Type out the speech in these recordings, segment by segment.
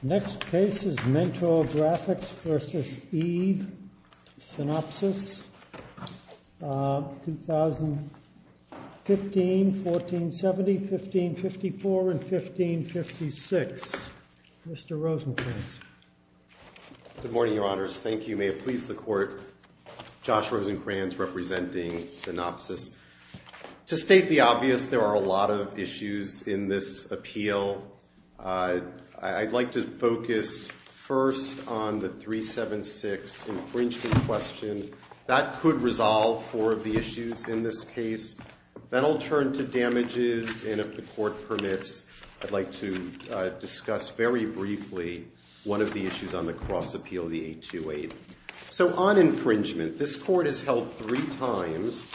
Next case is Mentor Graphics. Versus Eve, Synopsis, 2015, 1470, 1554, and 1556. Mr. Rosencrantz. Good morning, your honors. Thank you. May it please the court, Josh Rosencrantz representing Synopsis. To state the obvious, there are a lot of issues in this appeal. I'd like to focus first on the 376 infringement question. That could resolve four of the issues in this case. Then I'll turn to damages, and if the court permits, I'd like to discuss very briefly one of the issues on the cross appeal, the 828. So on infringement, this court has held three times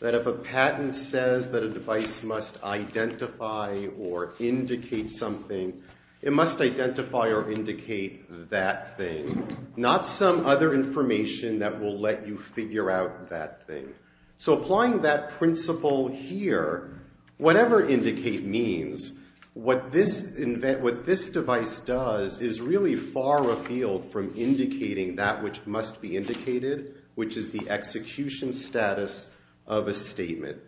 that if a patent says that a device must identify or indicate something, it must identify or indicate that thing, not some other information that will let you figure out that thing. So applying that principle here, whatever indicate means, what this device does is really far afield from indicating that which must be indicated, which is the execution status of a statement.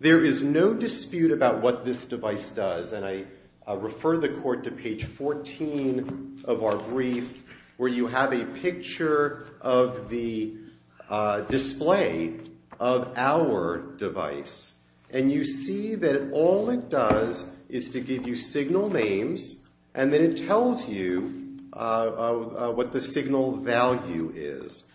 There is no dispute about what this device does, and I refer the court to page 14 of our brief, where you have a picture of the display of our device. And you see that all it does is to give you signal names, and then it tells you what the signal value is.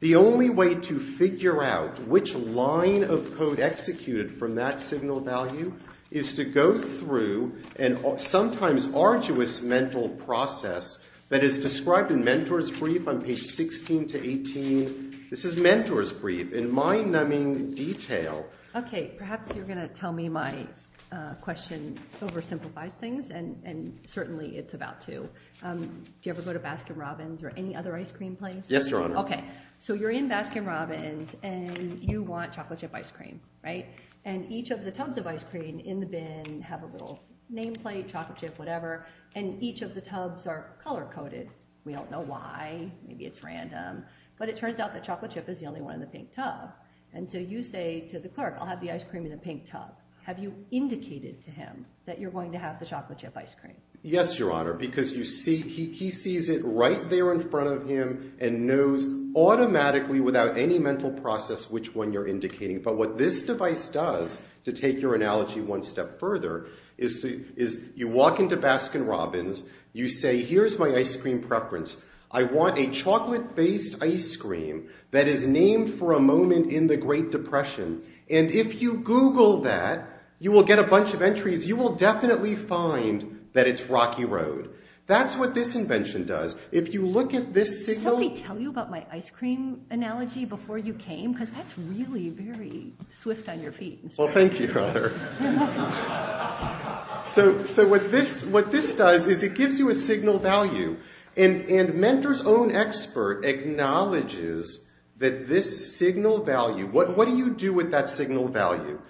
The only way to figure out which line of code executed from that signal value is to go through an sometimes arduous mental process that is described in Mentor's Brief on page 16 to 18. This is Mentor's Brief in mind-numbing detail. OK, perhaps you're going to tell me my question oversimplifies things, and certainly it's about to. Do you ever go to Baskin Robbins or any other ice cream place? Yes, Your Honor. OK, so you're in Baskin Robbins, and you want chocolate chip ice cream, right? And each of the tubs of ice cream in the bin have a little name plate, chocolate chip, whatever. And each of the tubs are color coded. We don't know why. Maybe it's random. But it turns out that chocolate chip is the only one in the pink tub. And so you say to the clerk, I'll have the ice cream in the pink tub. Have you indicated to him that you're going to have the chocolate chip ice cream? Yes, Your Honor. Because he sees it right there in front of him and knows automatically, without any mental process, which one you're indicating. But what this device does, to take your analogy one step further, is you walk into Baskin Robbins. You say, here's my ice cream preference. I want a chocolate-based ice cream that is named for a moment in the Great Depression. And if you Google that, you will get a bunch of entries. You will definitely find that it's Rocky Road. That's what this invention does. If you look at this signal. Did somebody tell you about my ice cream analogy before you came? Because that's really very swift on your feet. Well, thank you, Your Honor. So what this does is it gives you a signal value. And Mender's own expert acknowledges that this signal value. What do you do with that signal value?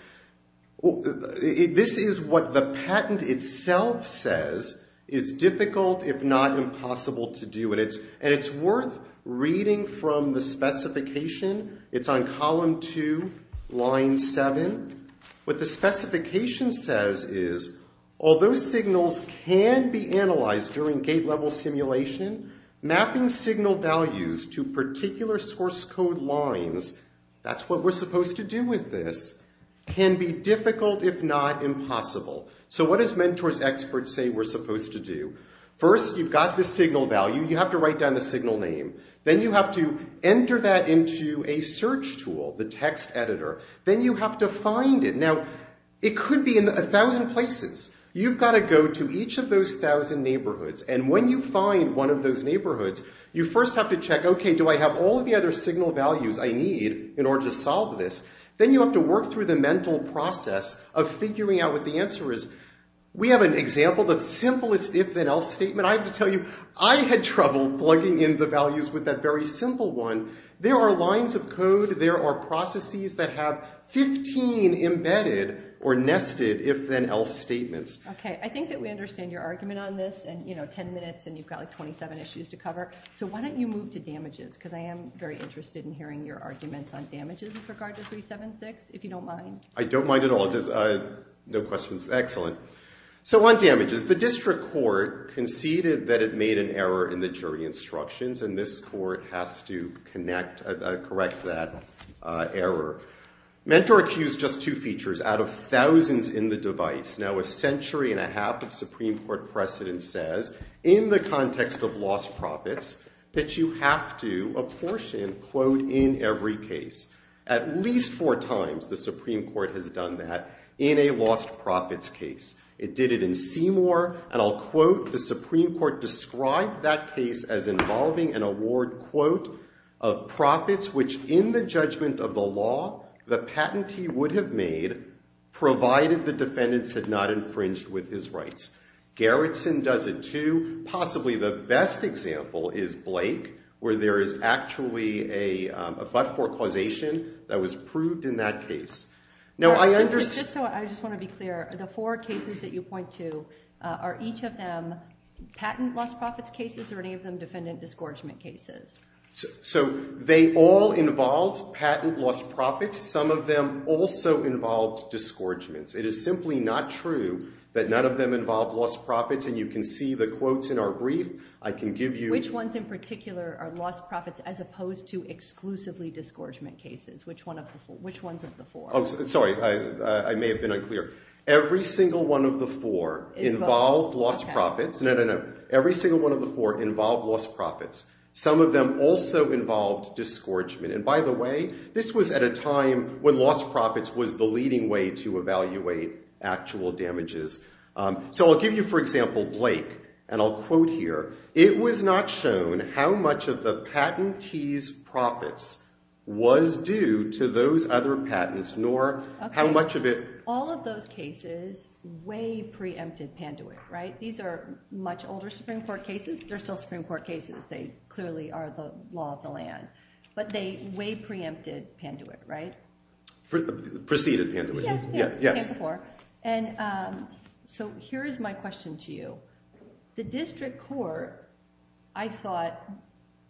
Well, this is what the patent itself says is difficult, if not impossible, to do. And it's worth reading from the specification. It's on column two, line seven. What the specification says is, although signals can be analyzed during gate-level simulation, mapping signal values to particular source code lines, that's what we're supposed to do with this, can be difficult, if not impossible. So what does Mender's expert say we're supposed to do? First, you've got the signal value. You have to write down the signal name. Then you have to enter that into a search tool, the text editor. Then you have to find it. Now, it could be in a thousand places. You've gotta go to each of those thousand neighborhoods. And when you find one of those neighborhoods, you first have to check, okay, do I have all of the other signal values I need in order to solve this? Then you have to work through the mental process of figuring out what the answer is. We have an example, the simplest if-then-else statement. I have to tell you, I had trouble plugging in the values with that very simple one. There are lines of code, there are processes that have 15 embedded or nested if-then-else statements. Okay, I think that we understand your argument on this, and 10 minutes, and you've got 27 issues to cover. So why don't you move to damages, because I am very interested in hearing your arguments on damages with regard to 376, if you don't mind. I don't mind at all, no questions. Excellent. So on damages, the district court conceded that it made an error in the jury instructions, and this court has to correct that error. Mentor accused just two features out of thousands in the device. Now, a century and a half of Supreme Court precedent says, in the context of lost profits, that you have to apportion, quote, in every case. At least four times, the Supreme Court has done that in a lost profits case. It did it in Seymour, and I'll quote, the Supreme Court described that case as involving an award, quote, of profits which in the judgment of the law, the patentee would have made, provided the defendants had not infringed with his rights. Garretson does it too. Possibly the best example is Blake, where there is actually a but-for causation that was approved in that case. Now, I understand. Just so I just want to be clear, the four cases that you point to, are each of them patent lost profits cases, or any of them defendant disgorgement cases? So they all involve patent lost profits. Some of them also involved disgorgements. It is simply not true that none of them involved lost profits, and you can see the quotes in our brief. I can give you. Which ones in particular are lost profits as opposed to exclusively disgorgement cases? Which ones of the four? Sorry, I may have been unclear. Every single one of the four involved lost profits. No, no, no. Every single one of the four involved lost profits. Some of them also involved disgorgement. And by the way, this was at a time when lost profits was the leading way to evaluate actual damages. So I'll give you, for example, Blake, and I'll quote here. It was not shown how much of the patentee's profits was due to those other patents, nor how much of it. All of those cases way preempted Panduit, right? These are much older Supreme Court cases. They're still Supreme Court cases. They clearly are the law of the land. But they way preempted Panduit, right? Preceded Panduit. Yeah, preempted before. And so here is my question to you. The district court, I thought,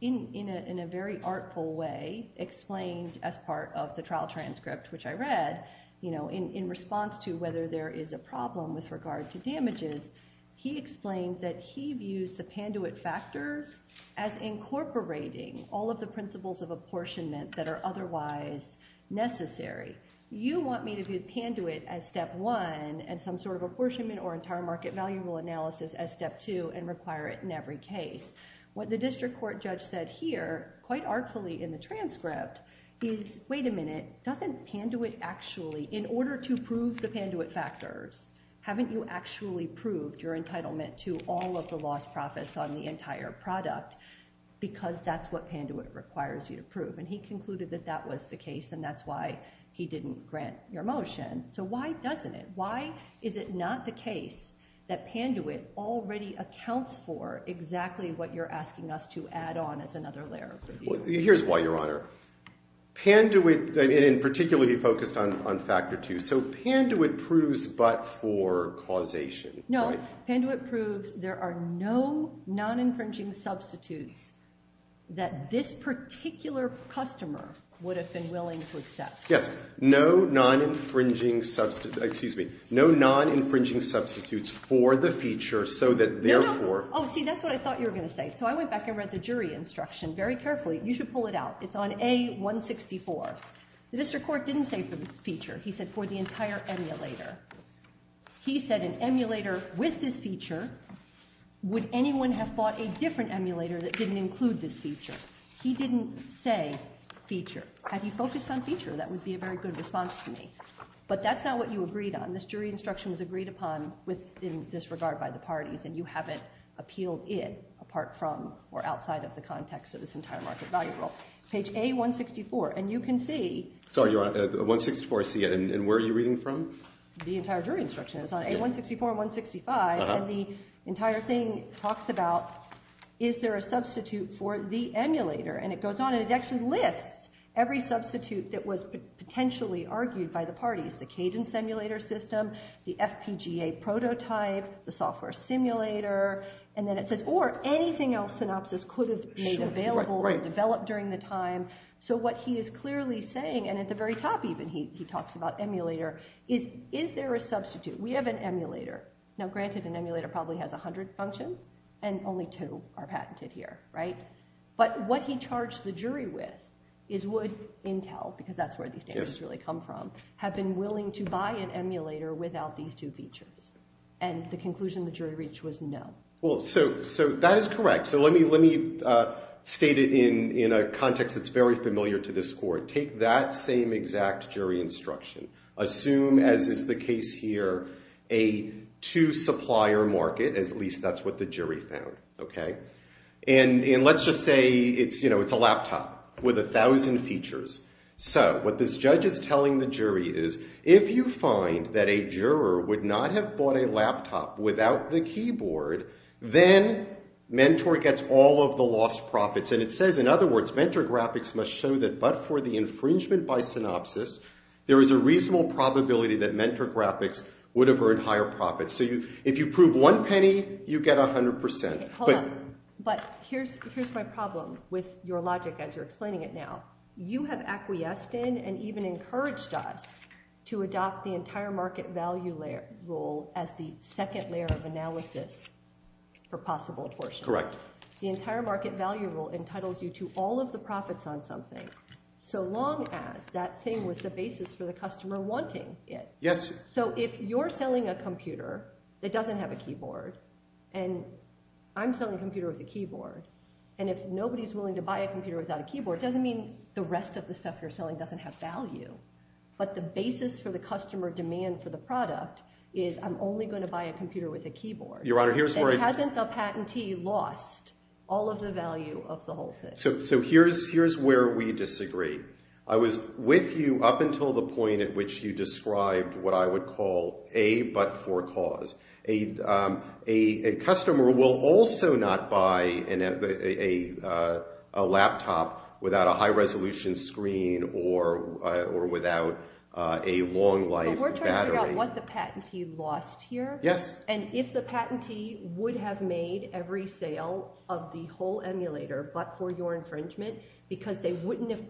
in a very artful way, explained as part of the trial transcript, which I read, in response to whether there is a problem with regard to damages, he explained that he views the Panduit factors as incorporating all of the principles of apportionment that are otherwise necessary. You want me to view Panduit as step one, and some sort of apportionment or entire market value analysis as step two, and require it in every case. What the district court judge said here, quite artfully in the transcript, is wait a minute, doesn't Panduit actually, in order to prove the Panduit factors, haven't you actually proved your entitlement to all of the lost profits on the entire product? Because that's what Panduit requires you to prove. And he concluded that that was the case, and that's why he didn't grant your motion. So why doesn't it, why is it not the case that Panduit already accounts for exactly what you're asking us to add on as another layer of review? Here's why, Your Honor. Panduit, and particularly focused on factor two. So Panduit proves but for causation, right? Panduit proves there are no non-infringing substitutes that this particular customer would have been willing to accept. Yes, no non-infringing, excuse me, no non-infringing substitutes for the feature so that therefore. Oh see, that's what I thought you were gonna say. So I went back and read the jury instruction very carefully. You should pull it out. It's on A-164. The district court didn't say for the feature. He said for the entire emulator. He said an emulator with this feature. Would anyone have thought a different emulator that didn't include this feature? He didn't say feature. Had he focused on feature, that would be a very good response to me. But that's not what you agreed on. This jury instruction was agreed upon within this regard by the parties, and you haven't appealed it apart from or outside of the context of this entire market value rule. Page A-164, and you can see. Sorry, Your Honor, 164C, and where are you reading from? The entire jury instruction is on A-164 and 165, and the entire thing talks about is there a substitute for the emulator? And it goes on, and it actually lists every substitute that was potentially argued by the parties. The cadence emulator system, the FPGA prototype, the software simulator, and then it says, or anything else Synopsys could have made available or developed during the time. So what he is clearly saying, and at the very top even he talks about emulator, is there a substitute? We have an emulator. Now granted, an emulator probably has 100 functions, and only two are patented here, right? But what he charged the jury with is would Intel, because that's where these data really come from, have been willing to buy an emulator without these two features? And the conclusion the jury reached was no. Well, so that is correct. So let me state it in a context that's very familiar to this court. Take that same exact jury instruction. Assume, as is the case here, a two supplier market, at least that's what the jury found, okay? And let's just say it's a laptop with 1,000 features. So what this judge is telling the jury is, if you find that a juror would not have bought a laptop without the keyboard, then Mentor gets all of the lost profits. And it says, in other words, Mentor graphics must show that but for the infringement by Synopsys, there is a reasonable probability that Mentor graphics would have earned higher profits. So if you prove one penny, you get 100%. But- But here's my problem with your logic as you're explaining it now. You have acquiesced in and even encouraged us to adopt the entire market value layer rule as the second layer of analysis for possible apportionment. Correct. The entire market value rule entitles you to all of the profits on something so long as that thing was the basis for the customer wanting it. Yes. So if you're selling a computer that doesn't have a keyboard and I'm selling a computer with a keyboard, and if nobody's willing to buy a computer without a keyboard, it doesn't mean the rest of the stuff you're selling doesn't have value. But the basis for the customer demand for the product is I'm only gonna buy a computer with a keyboard. Your Honor, here's where I- Then hasn't the patentee lost all of the value of the whole thing? So here's where we disagree. I was with you up until the point at which you described what I would call a but-for-cause. A customer will also not buy a laptop without a high-resolution screen or without a long-life battery. But we're trying to figure out what the patentee lost here. Yes. And if the patentee would have made every sale of the whole emulator but for your infringement because they wouldn't have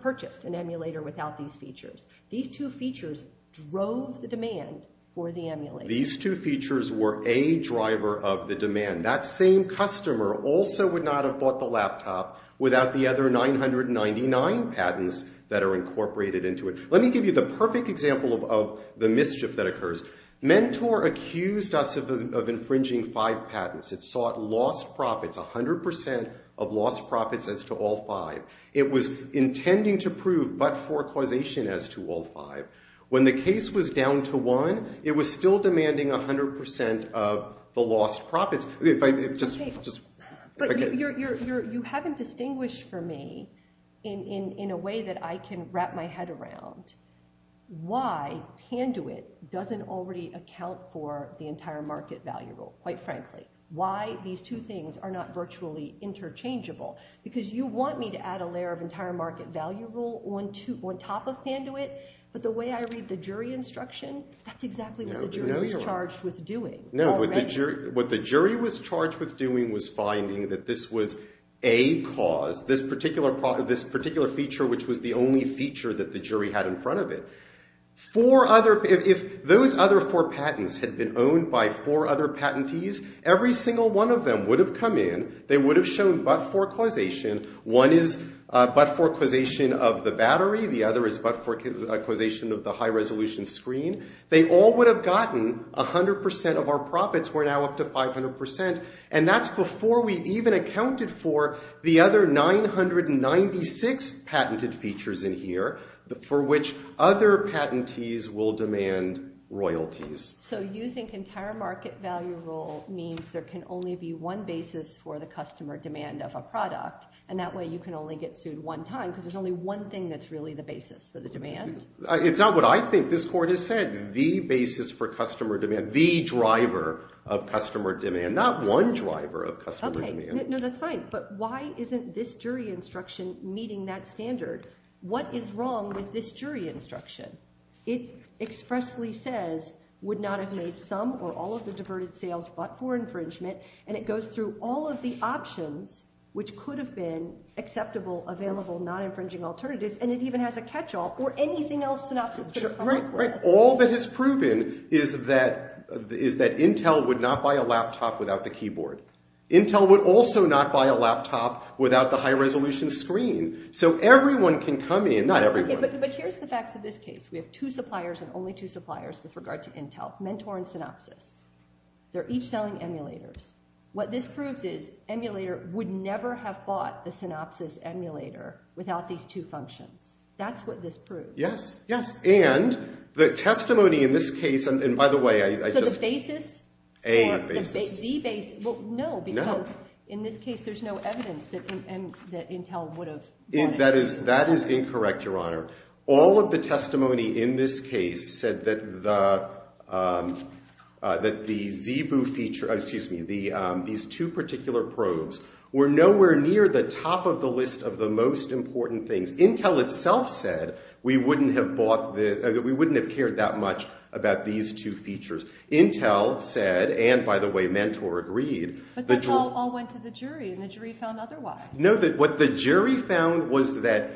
purchased an emulator without these features. These two features drove the demand for the emulator. These two features were a driver of the demand. That same customer also would not have bought the laptop without the other 999 patents that are incorporated into it. Let me give you the perfect example of the mischief that occurs. Mentor accused us of infringing five patents. It sought lost profits, 100% of lost profits as to all five. It was intending to prove but-for-causation as to all five. When the case was down to one, it was still demanding 100% of the lost profits. If I could just, just, if I could. You haven't distinguished for me in a way that I can wrap my head around why Panduit doesn't already account for the entire market value rule, quite frankly. Why these two things are not virtually interchangeable. Because you want me to add a layer of entire market value rule on top of Panduit but the way I read the jury instruction, that's exactly what the jury was charged with doing. No, what the jury was charged with doing was finding that this was a cause, this particular feature which was the only feature that the jury had in front of it. Four other, if those other four patents had been owned by four other patentees, every single one of them would have come in, they would have shown but-for-causation. One is but-for-causation of the battery, the other is but-for-causation of the high-resolution screen. They all would have gotten 100% of our profits. We're now up to 500% and that's before we even accounted for the other 996 patented features in here for which other patentees will demand royalties. So you think entire market value rule means there can only be one basis for the customer demand of a product and that way you can only get sued one time because there's only one thing that's really the basis for the demand? It's not what I think. This court has said the basis for customer demand, the driver of customer demand, not one driver of customer demand. No, that's fine but why isn't this jury instruction meeting that standard? What is wrong with this jury instruction? It expressly says would not have made some or all of the diverted sales but-for infringement and it goes through all of the options which could have been acceptable, available, non-infringing alternatives and it even has a catch-all or anything else synopsis could have come up with. All that is proven is that Intel would not buy a laptop without the keyboard. Intel would also not buy a laptop without the high-resolution screen. So everyone can come in, not everyone. But here's the facts of this case. We have two suppliers and only two suppliers with regard to Intel, Mentor and Synopsys. They're each selling emulators. What this proves is emulator would never have bought the Synopsys emulator without these two functions. That's what this proves. Yes, yes and the testimony in this case and by the way I just- So the basis? A basis. The basis, well no because in this case there's no evidence that Intel would have bought it. That is incorrect, Your Honor. All of the testimony in this case said that the ZEBU feature, excuse me, these two particular probes were nowhere near the top of the list of the most important things. Intel itself said we wouldn't have bought this, we wouldn't have cared that much about these two features. Intel said and by the way Mentor agreed- But that all went to the jury and the jury found otherwise. No, what the jury found was that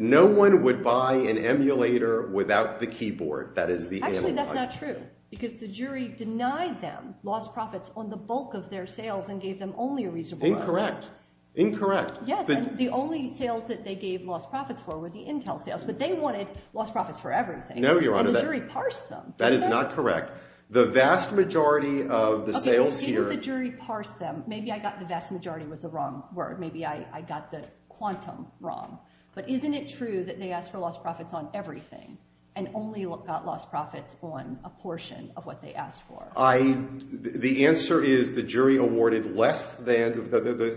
no one would buy an emulator without the keyboard. That is the amygdala. Actually that's not true because the jury denied them lost profits on the bulk of their sales and gave them only a reasonable amount. Incorrect, incorrect. Yes, and the only sales that they gave lost profits for were the Intel sales but they wanted lost profits for everything. No, Your Honor. And the jury parsed them. That is not correct. The vast majority of the sales here- Okay, the jury parsed them. Maybe I got the vast majority was the wrong word. Maybe I got the quantum wrong. But isn't it true that they asked for lost profits on everything and only got lost profits on a portion of what they asked for? The answer is the jury awarded less than,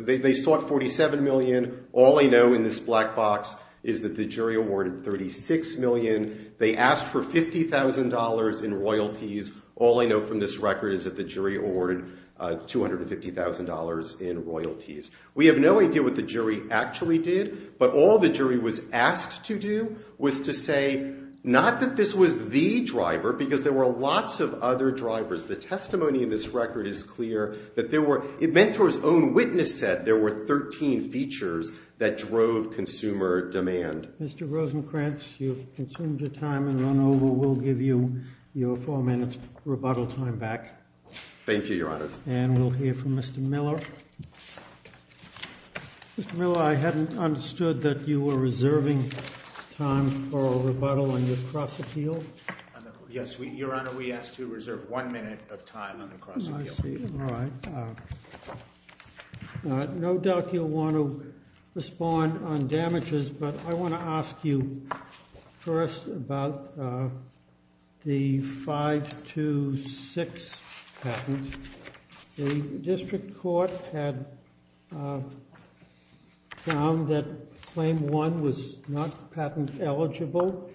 they sought 47 million. All I know in this black box is that the jury awarded 36 million. They asked for $50,000 in royalties. All I know from this record is that the jury awarded $250,000 in royalties. We have no idea what the jury actually did but all the jury was asked to do was to say not that this was the driver because there were lots of other drivers. The testimony in this record is clear that there were, in Mentor's own witness set, there were 13 features that drove consumer demand. Mr. Rosenkranz, you've consumed your time and run over. We'll give you your four minute rebuttal time back. Thank you, Your Honor. And we'll hear from Mr. Miller. Mr. Miller, I hadn't understood that you were reserving time for a rebuttal on your cross appeal. Yes, Your Honor, we asked to reserve one minute of time on the cross appeal. I see, all right. No doubt you'll want to respond on damages but I want to ask you first about the 526 patent. The district court had found that claim one was not patent eligible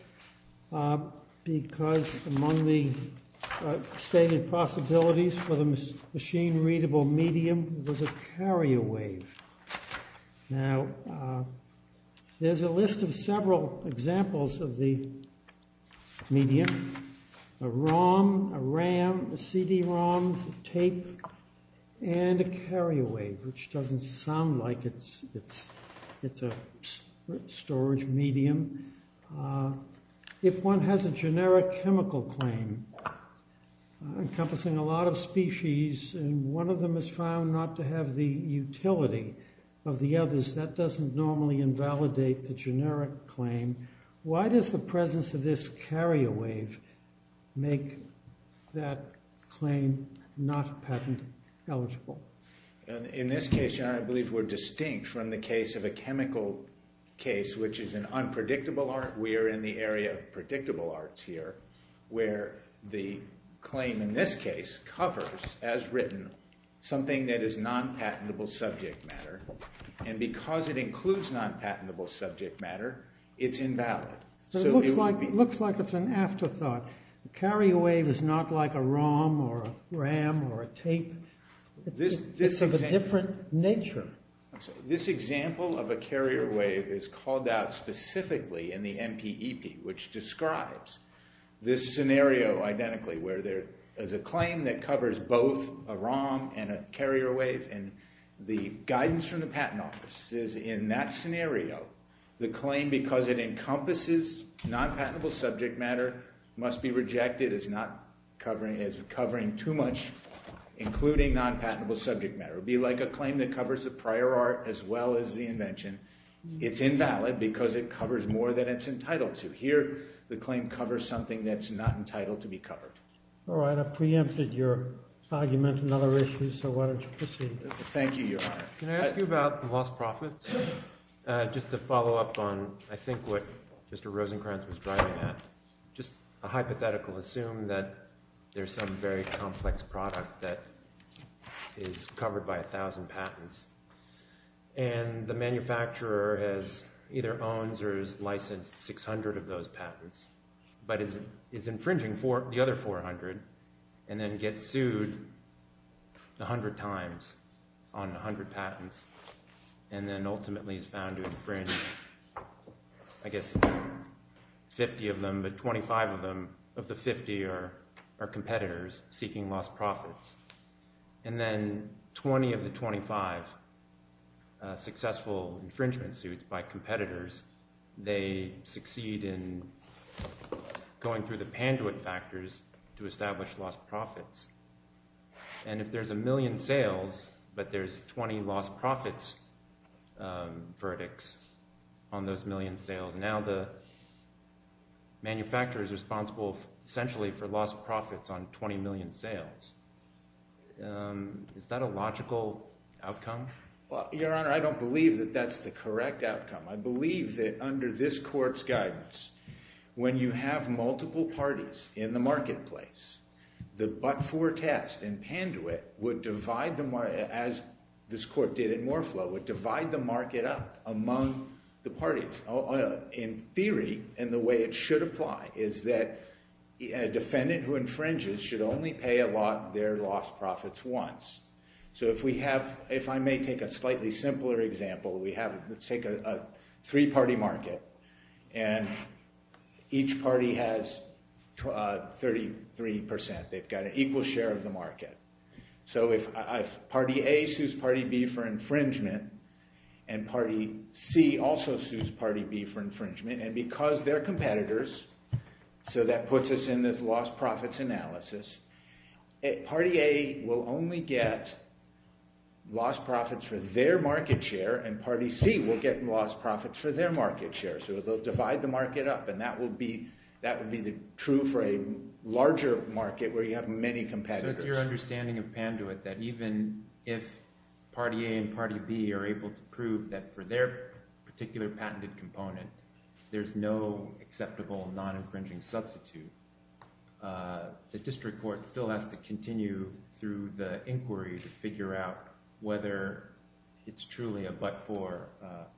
because among the stated possibilities for the machine-readable medium was a carrier wave. Now, there's a list of several examples of the medium, a ROM, a RAM, a CD-ROM, a tape, and a carrier wave, which doesn't sound like it's a storage medium. If one has a generic chemical claim encompassing a lot of species and one of them is found not to have the utility of the others, that doesn't normally invalidate the generic claim. Why does the presence of this carrier wave make that claim not patent eligible? In this case, Your Honor, I believe we're distinct from the case of a chemical case, which is an unpredictable art. We are in the area of predictable arts here where the claim in this case covers, as written, something that is non-patentable subject matter, and because it includes non-patentable subject matter, it's invalid. So it would be- It looks like it's an afterthought. The carrier wave is not like a ROM or a RAM or a tape. It's of a different nature. This example of a carrier wave is called out specifically in the NPEP, which describes this scenario identically, where there is a claim that covers both a ROM and a carrier wave, and the guidance from the Patent Office is in that scenario, the claim, because it encompasses non-patentable subject matter, must be rejected as covering too much, including non-patentable subject matter. It would be like a claim that covers the prior art as well as the invention. It's invalid because it covers more than it's entitled to. Here, the claim covers something that's not entitled to be covered. All right, I've preempted your argument and other issues, so why don't you proceed? Thank you, Your Honor. Can I ask you about the lost profits? Just to follow up on, I think, what Mr. Rosenkranz was driving at, just a hypothetical, assume that there's some very complex product that is covered by 1,000 patents, and the manufacturer either owns or is licensed 600 of those patents, but is infringing the other 400, and then gets sued 100 times on 100 patents, and then ultimately is found to infringe, I guess, 50 of them, but 25 of them, of the 50 are competitors seeking lost profits. And then 20 of the 25 successful infringement suits by competitors, they succeed in going through the Panduit factors to establish lost profits. And if there's a million sales, but there's 20 lost profits verdicts on those million sales, now the manufacturer is responsible, essentially, for lost profits on 20 million sales. Is that a logical outcome? Your Honor, I don't believe that that's the correct outcome. I believe that under this court's guidance, when you have multiple parties in the marketplace, the but-for test in Panduit would divide, as this court did in Moreflow, would divide the market up among the parties. In theory, and the way it should apply, is that a defendant who infringes should only pay a lot their lost profits once. So if we have, if I may take a slightly simpler example, let's take a three-party market, and each party has 33%. They've got an equal share of the market. So if party A sues party B for infringement, and party C also sues party B for infringement, and because they're competitors, so that puts us in this lost profits analysis, party A will only get lost profits for their market share, and party C will get lost profits for their market share. So they'll divide the market up, and that would be true for a larger market where you have many competitors. So it's your understanding of Panduit that even if party A and party B are able to prove that for their particular patented component, there's no acceptable non-infringing substitute, the district court still has to continue through the inquiry to figure out whether it's truly a but-for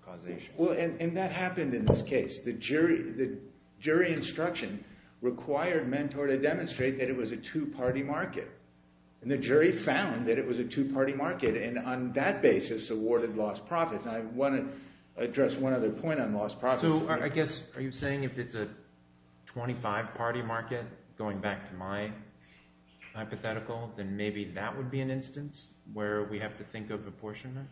causation. Well, and that happened in this case. The jury instruction required Mentor to demonstrate that it was a two-party market, and the jury found that it was a two-party market, and on that basis awarded lost profits. I wanna address one other point on lost profits. So I guess, are you saying if it's a 25-party market, going back to my hypothetical, then maybe that would be an instance where we have to think of apportionment?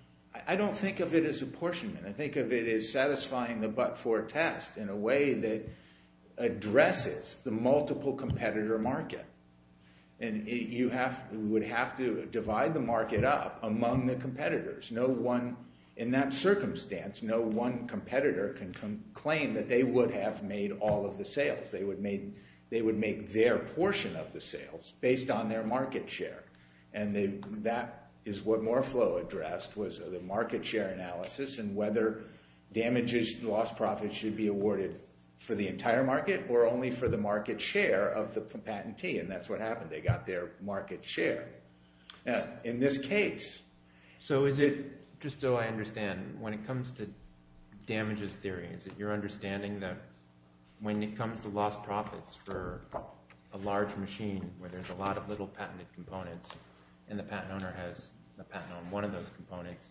I don't think of it as apportionment. I think of it as satisfying the but-for test in a way that addresses the multiple competitor market, and you would have to divide the market up among the competitors. No one, in that circumstance, no one competitor can claim that they would have made all of the sales. They would make their portion of the sales based on their market share, and that is what Moreflow addressed was the market share analysis and whether damages and lost profits should be awarded for the entire market or only for the market share of the patentee, and that's what happened. They got their market share. Now, in this case. So is it, just so I understand, when it comes to damages theory, is it your understanding that when it comes to lost profits for a large machine where there's a lot of little patented components and the patent owner has a patent on one of those components,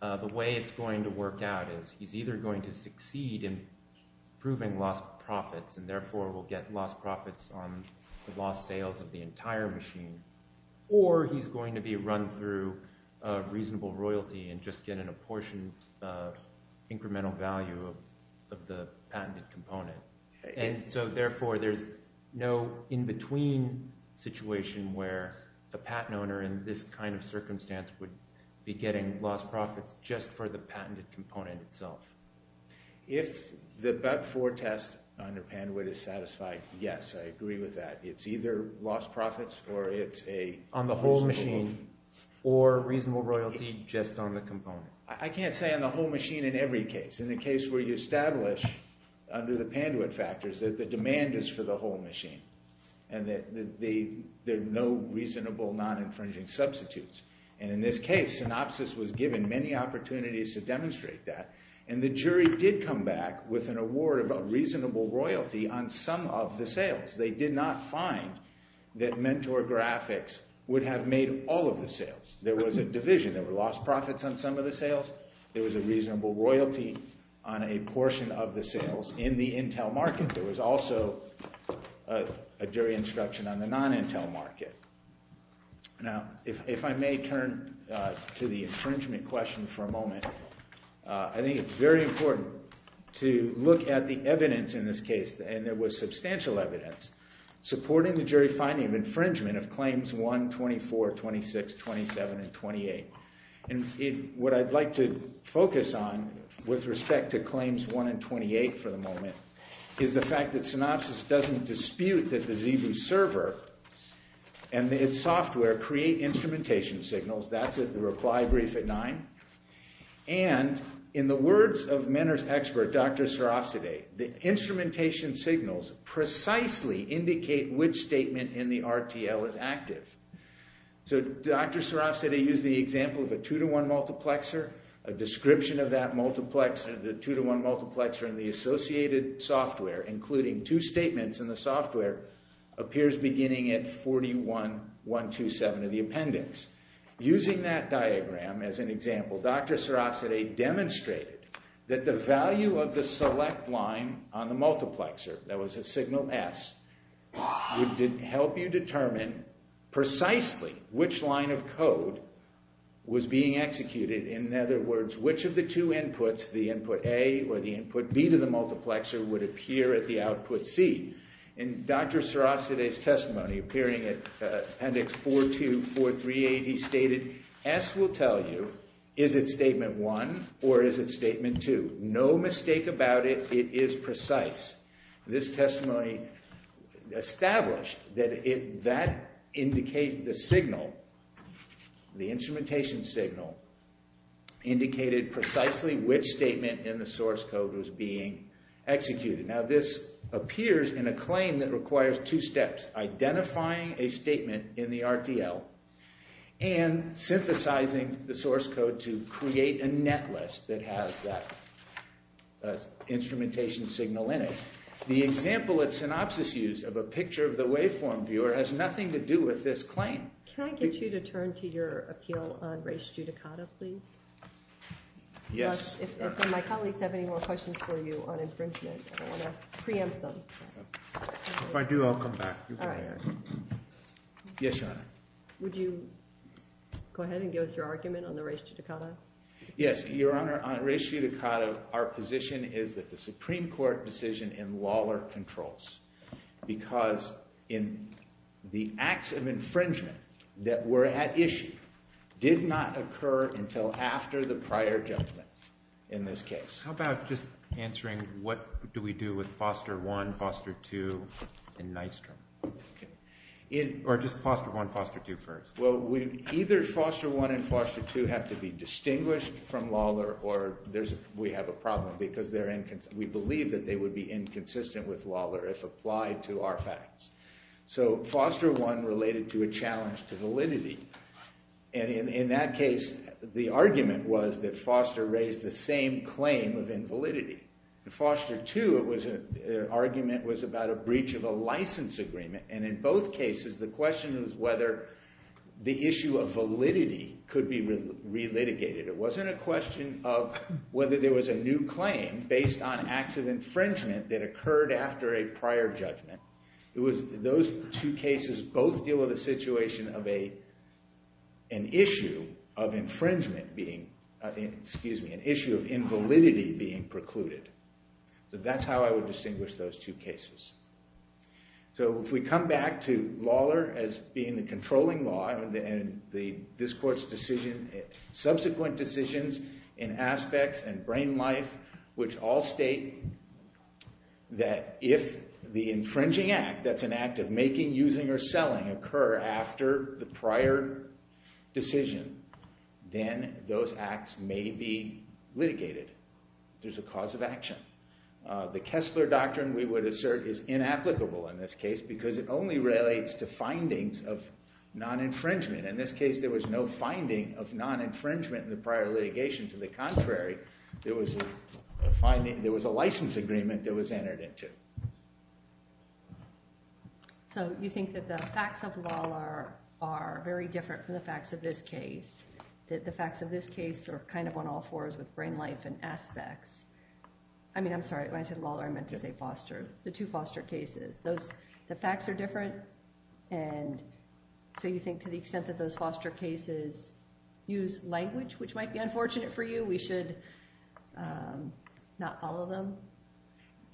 the way it's going to work out is he's either going to succeed in proving lost profits and therefore will get lost profits on the lost sales of the entire machine, or he's going to be run through a reasonable royalty and just get an apportioned incremental value of the patented component, and so therefore there's no in-between situation where the patent owner in this kind of circumstance would be getting lost profits just for the patented component itself. If the BEV-IV test under Panduit is satisfied, yes, I agree with that. It's either lost profits or it's a reasonable. On the whole machine, or reasonable royalty just on the component. I can't say on the whole machine in every case. It's in the case where you establish under the Panduit factors that the demand is for the whole machine and that there are no reasonable non-infringing substitutes, and in this case, Synopsys was given many opportunities to demonstrate that, and the jury did come back with an award of a reasonable royalty on some of the sales. They did not find that Mentor Graphics would have made all of the sales. There was a division. There were lost profits on some of the sales. There was a reasonable royalty on a portion of the sales. In the Intel market, there was also a jury instruction on the non-Intel market. Now, if I may turn to the infringement question for a moment, I think it's very important to look at the evidence in this case, and there was substantial evidence supporting the jury finding of infringement of claims one, 24, 26, 27, and 28. And what I'd like to focus on with respect to claims one and 28 for the moment is the fact that Synopsys doesn't dispute that the Xebu server and its software create instrumentation signals. That's the reply brief at nine. And in the words of Mentor's expert, Dr. Sarafsadeh, the instrumentation signals precisely indicate which statement in the RTL is active. So Dr. Sarafsadeh used the example of a two-to-one multiplexer. A description of that multiplexer, the two-to-one multiplexer in the associated software, including two statements in the software, appears beginning at 41, 127 in the appendix. Using that diagram as an example, Dr. Sarafsadeh demonstrated that the value of the select line on the multiplexer, that was a signal S, would help you determine precisely which line of code was being executed. In other words, which of the two inputs, the input A or the input B to the multiplexer, would appear at the output C. In Dr. Sarafsadeh's testimony, appearing at appendix 42438, he stated, S will tell you, is it statement one or is it statement two? No mistake about it, it is precise. This testimony established that that indicated the signal, the instrumentation signal, indicated precisely which statement in the source code was being executed. Now this appears in a claim that requires two steps, identifying a statement in the RTL, and synthesizing the source code to create a net list that has that instrumentation signal in it. The example at synopsis use of a picture of the waveform viewer has nothing to do with this claim. Can I get you to turn to your appeal on res judicata, please? Yes. If my colleagues have any more questions for you on infringement, I want to preempt them. If I do, I'll come back. Yes, Your Honor. Would you go ahead and give us your argument on the res judicata? Yes, Your Honor, on res judicata, our position is that the Supreme Court decision in Lawler controls, because the acts of infringement that were at issue did not occur until after the prior judgment in this case. How about just answering what do we do with foster one, foster two, and Nystrom? Or just foster one, foster two first. Well, either foster one and foster two have to be distinguished from Lawler, or we have a problem because we believe that they would be inconsistent with Lawler if applied to our facts. So foster one related to a challenge to validity. And in that case, the argument was that foster raised the same claim of invalidity. The foster two argument was about a breach of a license agreement. And in both cases, the question was whether the issue of validity could be re-litigated. It wasn't a question of whether there was a new claim based on acts of infringement that occurred after a prior judgment. It was those two cases both deal with a situation of an issue of infringement being, excuse me, an issue of invalidity being precluded. So that's how I would distinguish those two cases. So if we come back to Lawler as being the controlling law, this court's decision, subsequent decisions in aspects and brain life, which all state that if the infringing act, that's an act of making, using, or selling, occur after the prior decision, then those acts may be litigated. There's a cause of action. The Kessler Doctrine, we would assert, is inapplicable in this case because it only relates to findings of non-infringement. In this case, there was no finding of non-infringement in the prior litigation. To the contrary, there was a license agreement that was entered into. So you think that the facts of Lawler are very different from the facts of this case, that the facts of this case are kind of on all fours with brain life and aspects. I mean, I'm sorry, when I said Lawler, I meant to say Foster, the two Foster cases. Those, the facts are different, and so you think, to the extent that those Foster cases use language, which might be unfortunate for you, we should not follow them?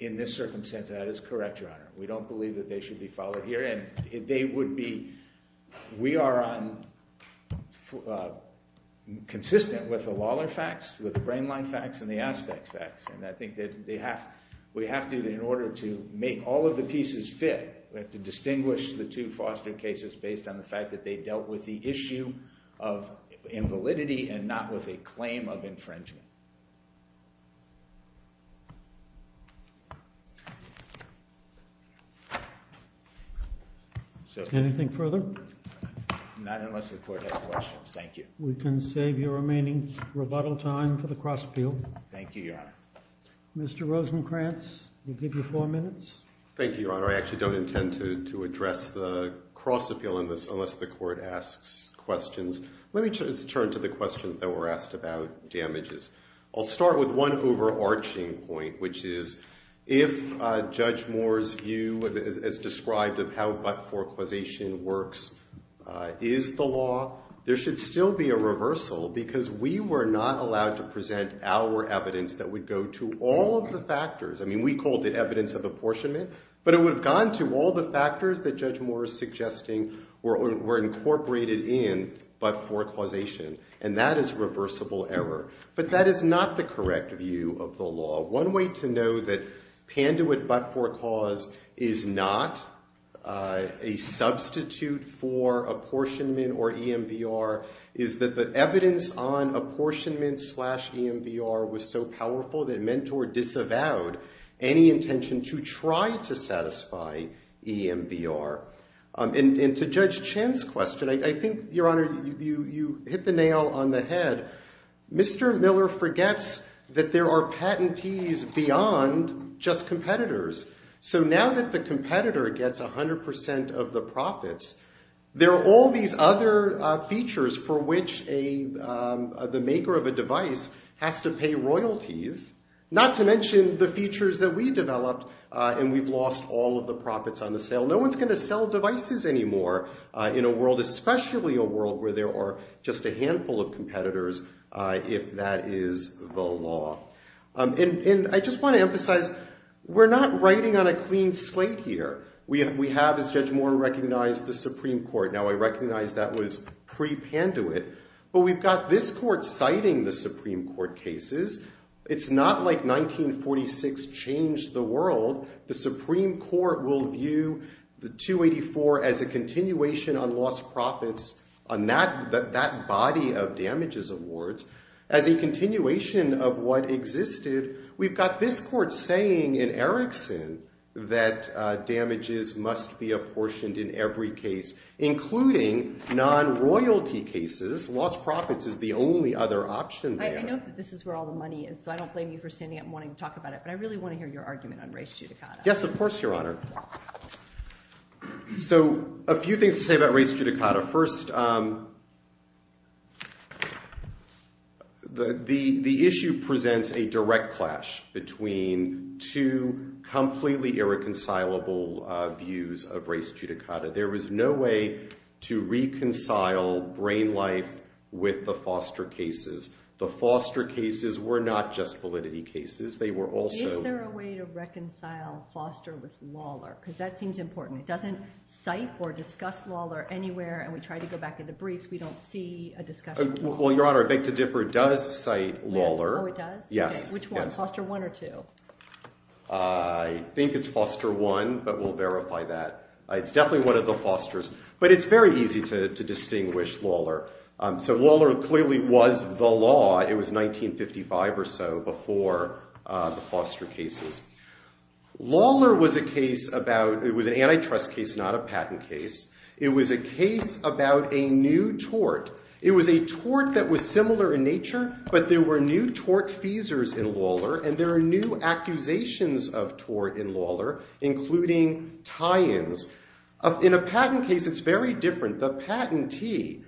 In this circumstance, that is correct, Your Honor. We don't believe that they should be followed here, and they would be, we are on, consistent with the Lawler facts, with the Brain Life facts, and the Aspects facts, and I think that they have, we have to, in order to make all of the pieces fit, we have to distinguish the two Foster cases based on the fact that they dealt with the issue of invalidity and not with a claim of infringement. Anything further? Not unless the Court has questions, thank you. We can save your remaining rebuttal time for the cross-appeal. Thank you, Your Honor. Mr. Rosenkranz, we'll give you four minutes. Thank you, Your Honor, I actually don't intend to address the cross-appeal in this unless the Court asks questions. Let me just turn to the questions that were asked about damages. I'll start with one overarching point, which is, if Judge Moore's view is described of how but-for causation works, is the law, there should still be a reversal, because we were not allowed to present our evidence that would go to all of the factors. I mean, we called it evidence of apportionment, but it would have gone to all the factors that Judge Moore is suggesting were incorporated in but-for causation, and that is reversible error. But that is not the correct view of the law. One way to know that Panduit but-for cause is not a substitute for apportionment or EMVR is that the evidence on apportionment slash EMVR was so powerful that Mentor disavowed any intention to try to satisfy EMVR. And to Judge Chen's question, I think, Your Honor, you hit the nail on the head. Mr. Miller forgets that there are patentees beyond just competitors. So now that the competitor gets 100% of the profits, there are all these other features for which the maker of a device has to pay royalties, not to mention the features that we developed, and we've lost all of the profits on the sale. No one's gonna sell devices anymore in a world, especially a world where there are just a handful of competitors, if that is the law. And I just want to emphasize, we're not writing on a clean slate here. We have, as Judge Moore recognized, the Supreme Court. Now I recognize that was pre-panduit, but we've got this court citing the Supreme Court cases. It's not like 1946 changed the world. The Supreme Court will view the 284 as a continuation on lost profits, on that body of damages awards, as a continuation of what existed. We've got this court saying in Erickson that damages must be apportioned in every case, including non-royalty cases. Lost profits is the only other option there. I know that this is where all the money is, so I don't blame you for standing up and wanting to talk about it, but I really want to hear your argument on race judicata. Yes, of course, Your Honor. So a few things to say about race judicata. First, the issue presents a direct clash between two completely irreconcilable views of race judicata. There was no way to reconcile brain life with the Foster cases. The Foster cases were not just validity cases. They were also- Is there a way to reconcile Foster with Lawler? Because that seems important. It doesn't cite or discuss Lawler anywhere, and we try to go back in the briefs, we don't see a discussion. Well, Your Honor, I beg to differ. It does cite Lawler. Oh, it does? Yes, yes. Which one, Foster I or II? I think it's Foster I, but we'll verify that. It's definitely one of the Fosters, but it's very easy to distinguish Lawler. So Lawler clearly was the law. It was 1955 or so before the Foster cases. Lawler was a case about, it was an antitrust case, not a patent case. It was a case about a new tort. It was a tort that was similar in nature, but there were new tortfeasors in Lawler, and there are new accusations of tort in Lawler, including tie-ins. In a patent case, it's very different. The patentee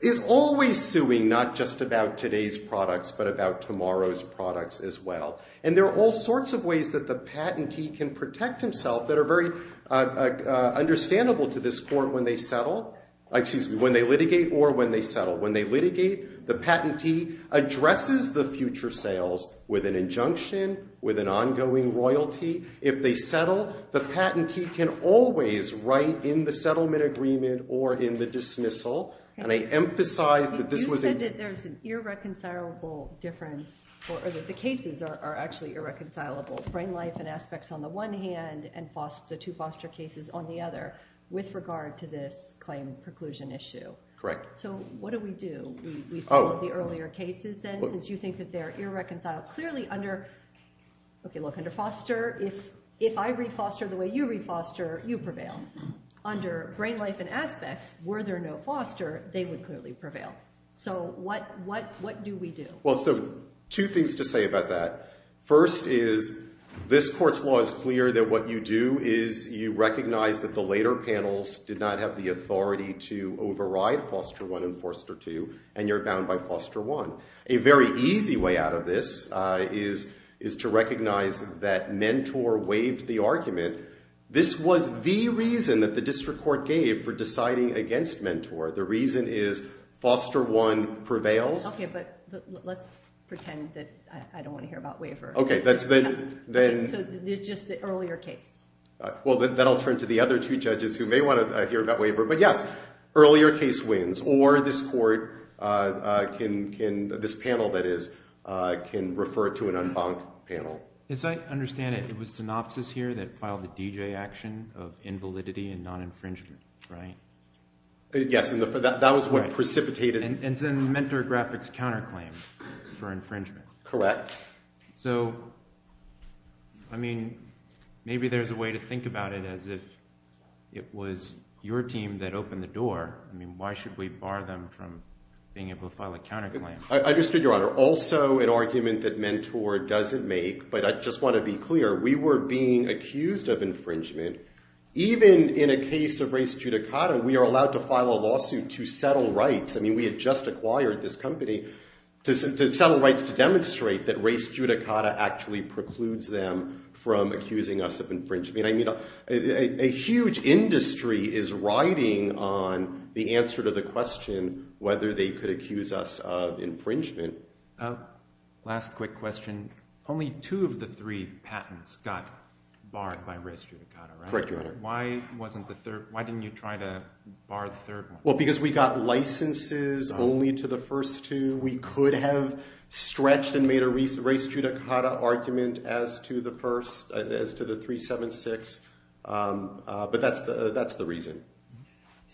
is always suing, not just about today's products, but about tomorrow's products as well. And there are all sorts of ways that the patentee can protect himself that are very understandable to this court when they settle, excuse me, when they litigate or when they settle. When they litigate, the patentee addresses the future sales with an injunction, with an ongoing royalty. If they settle, the patentee can always write in the settlement agreement or in the dismissal. And I emphasize that this was a- You said that there's an irreconcilable difference, or that the cases are actually irreconcilable, brain life and aspects on the one hand and the two Foster cases on the other with regard to this claim preclusion issue. Correct. So what do we do? We follow the earlier cases then, since you think that they're irreconcilable. Clearly under, okay look, under Foster, if I read Foster the way you read Foster, you prevail. Under brain life and aspects, were there no Foster, they would clearly prevail. So what do we do? Well, so two things to say about that. First is this court's law is clear that what you do is you recognize that the later panels did not have the authority to override Foster 1 and Foster 2, and you're bound by Foster 1. A very easy way out of this is to recognize that Mentor waived the argument. This was the reason that the district court gave for deciding against Mentor. The reason is Foster 1 prevails. Okay, but let's pretend that I don't want to hear about waiver. Okay, that's the, then- So there's just the earlier case. Well, then I'll turn to the other two judges who may want to hear about waiver. But yes, earlier case wins, or this court can, this panel that is, can refer to an en banc panel. As I understand it, it was synopsis here that filed the DJ action of invalidity and non-infringement, right? Yes, and that was what precipitated- And then Mentor graphics counterclaim for infringement. Correct. So, I mean, maybe there's a way to think about it as if it was your team that opened the door. I mean, why should we bar them from being able to file a counterclaim? I understood, Your Honor. Also an argument that Mentor doesn't make, but I just want to be clear. We were being accused of infringement. Even in a case of race judicata, we are allowed to file a lawsuit to settle rights. I mean, we had just acquired this company to settle rights to demonstrate that race judicata actually precludes them from accusing us of infringement. A huge industry is riding on the answer to the question whether they could accuse us of infringement. Last quick question. Only two of the three patents got barred by race judicata, right? Correct, Your Honor. Why didn't you try to bar the third one? Well, because we got licenses only to the first two. We could have stretched and made a race judicata argument as to the first, as to the 376, but that's the reason.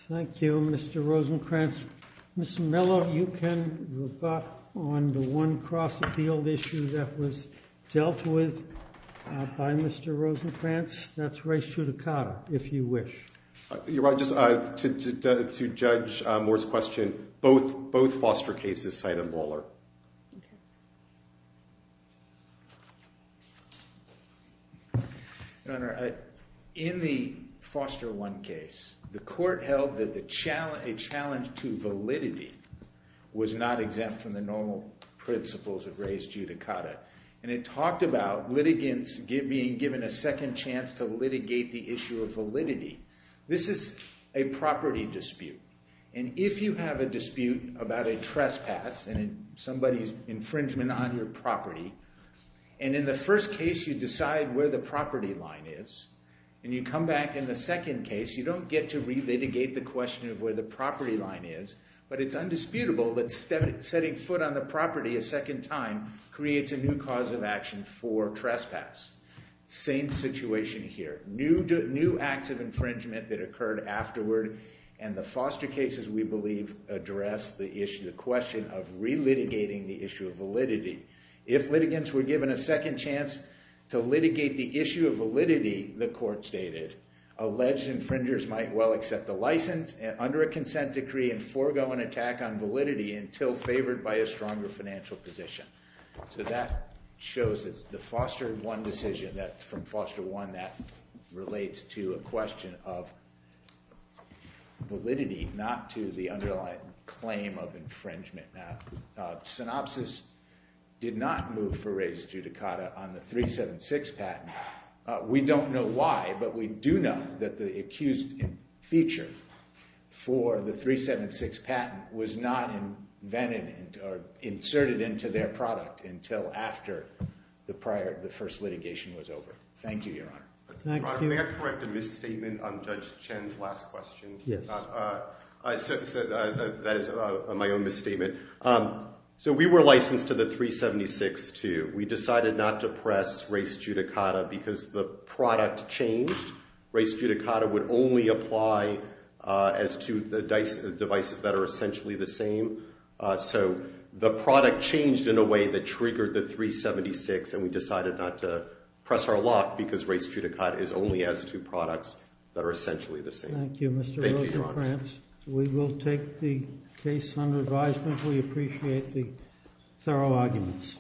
Thank you, Mr. Rosenkranz. Mr. Mello, you can rebut on the one cross-appeal issue that was dealt with by Mr. Rosenkranz. That's race judicata, if you wish. Your Honor, just to judge Moore's question, both foster cases cite a brawler. Your Honor, in the foster one case, the court held that a challenge to validity was not exempt from the normal principles of race judicata. And it talked about litigants being given a second chance to litigate the issue of validity. This is a property dispute. And if you have a dispute about a trespass and somebody's infringement on your property, and in the first case you decide where the property line is, and you come back in the second case, you don't get to re-litigate the question of where the property line is. But it's undisputable that setting foot on the property a second time creates a new cause of action for trespass. Same situation here. New acts of infringement that occurred afterward. And the foster cases, we believe, address the issue, the question of re-litigating the issue of validity. If litigants were given a second chance to litigate the issue of validity, the court stated, alleged infringers might well accept the license under a consent decree and forego an attack on validity until favored by a stronger financial position. So that shows that the foster one decision, that from foster one, that relates to a question of validity, not to the underlying claim of infringement. Synopsis did not move for Reyes-Judicata on the 376 patent. We don't know why, but we do know that the accused in feature for the 376 patent was not inserted into their product until after the first litigation was over. Thank you, Your Honor. Can I correct a misstatement on Judge Chen's last question? Yes. I said that is my own misstatement. So we were licensed to the 376 too. We decided not to press Reyes-Judicata because the product changed. Reyes-Judicata would only apply as to the devices that are essentially the same. So the product changed in a way that triggered the 376, and we decided not to press our lock because Reyes-Judicata is only as to products that are essentially the same. Thank you, Mr. Rosenkranz. We will take the case under advisement. We appreciate the thorough arguments.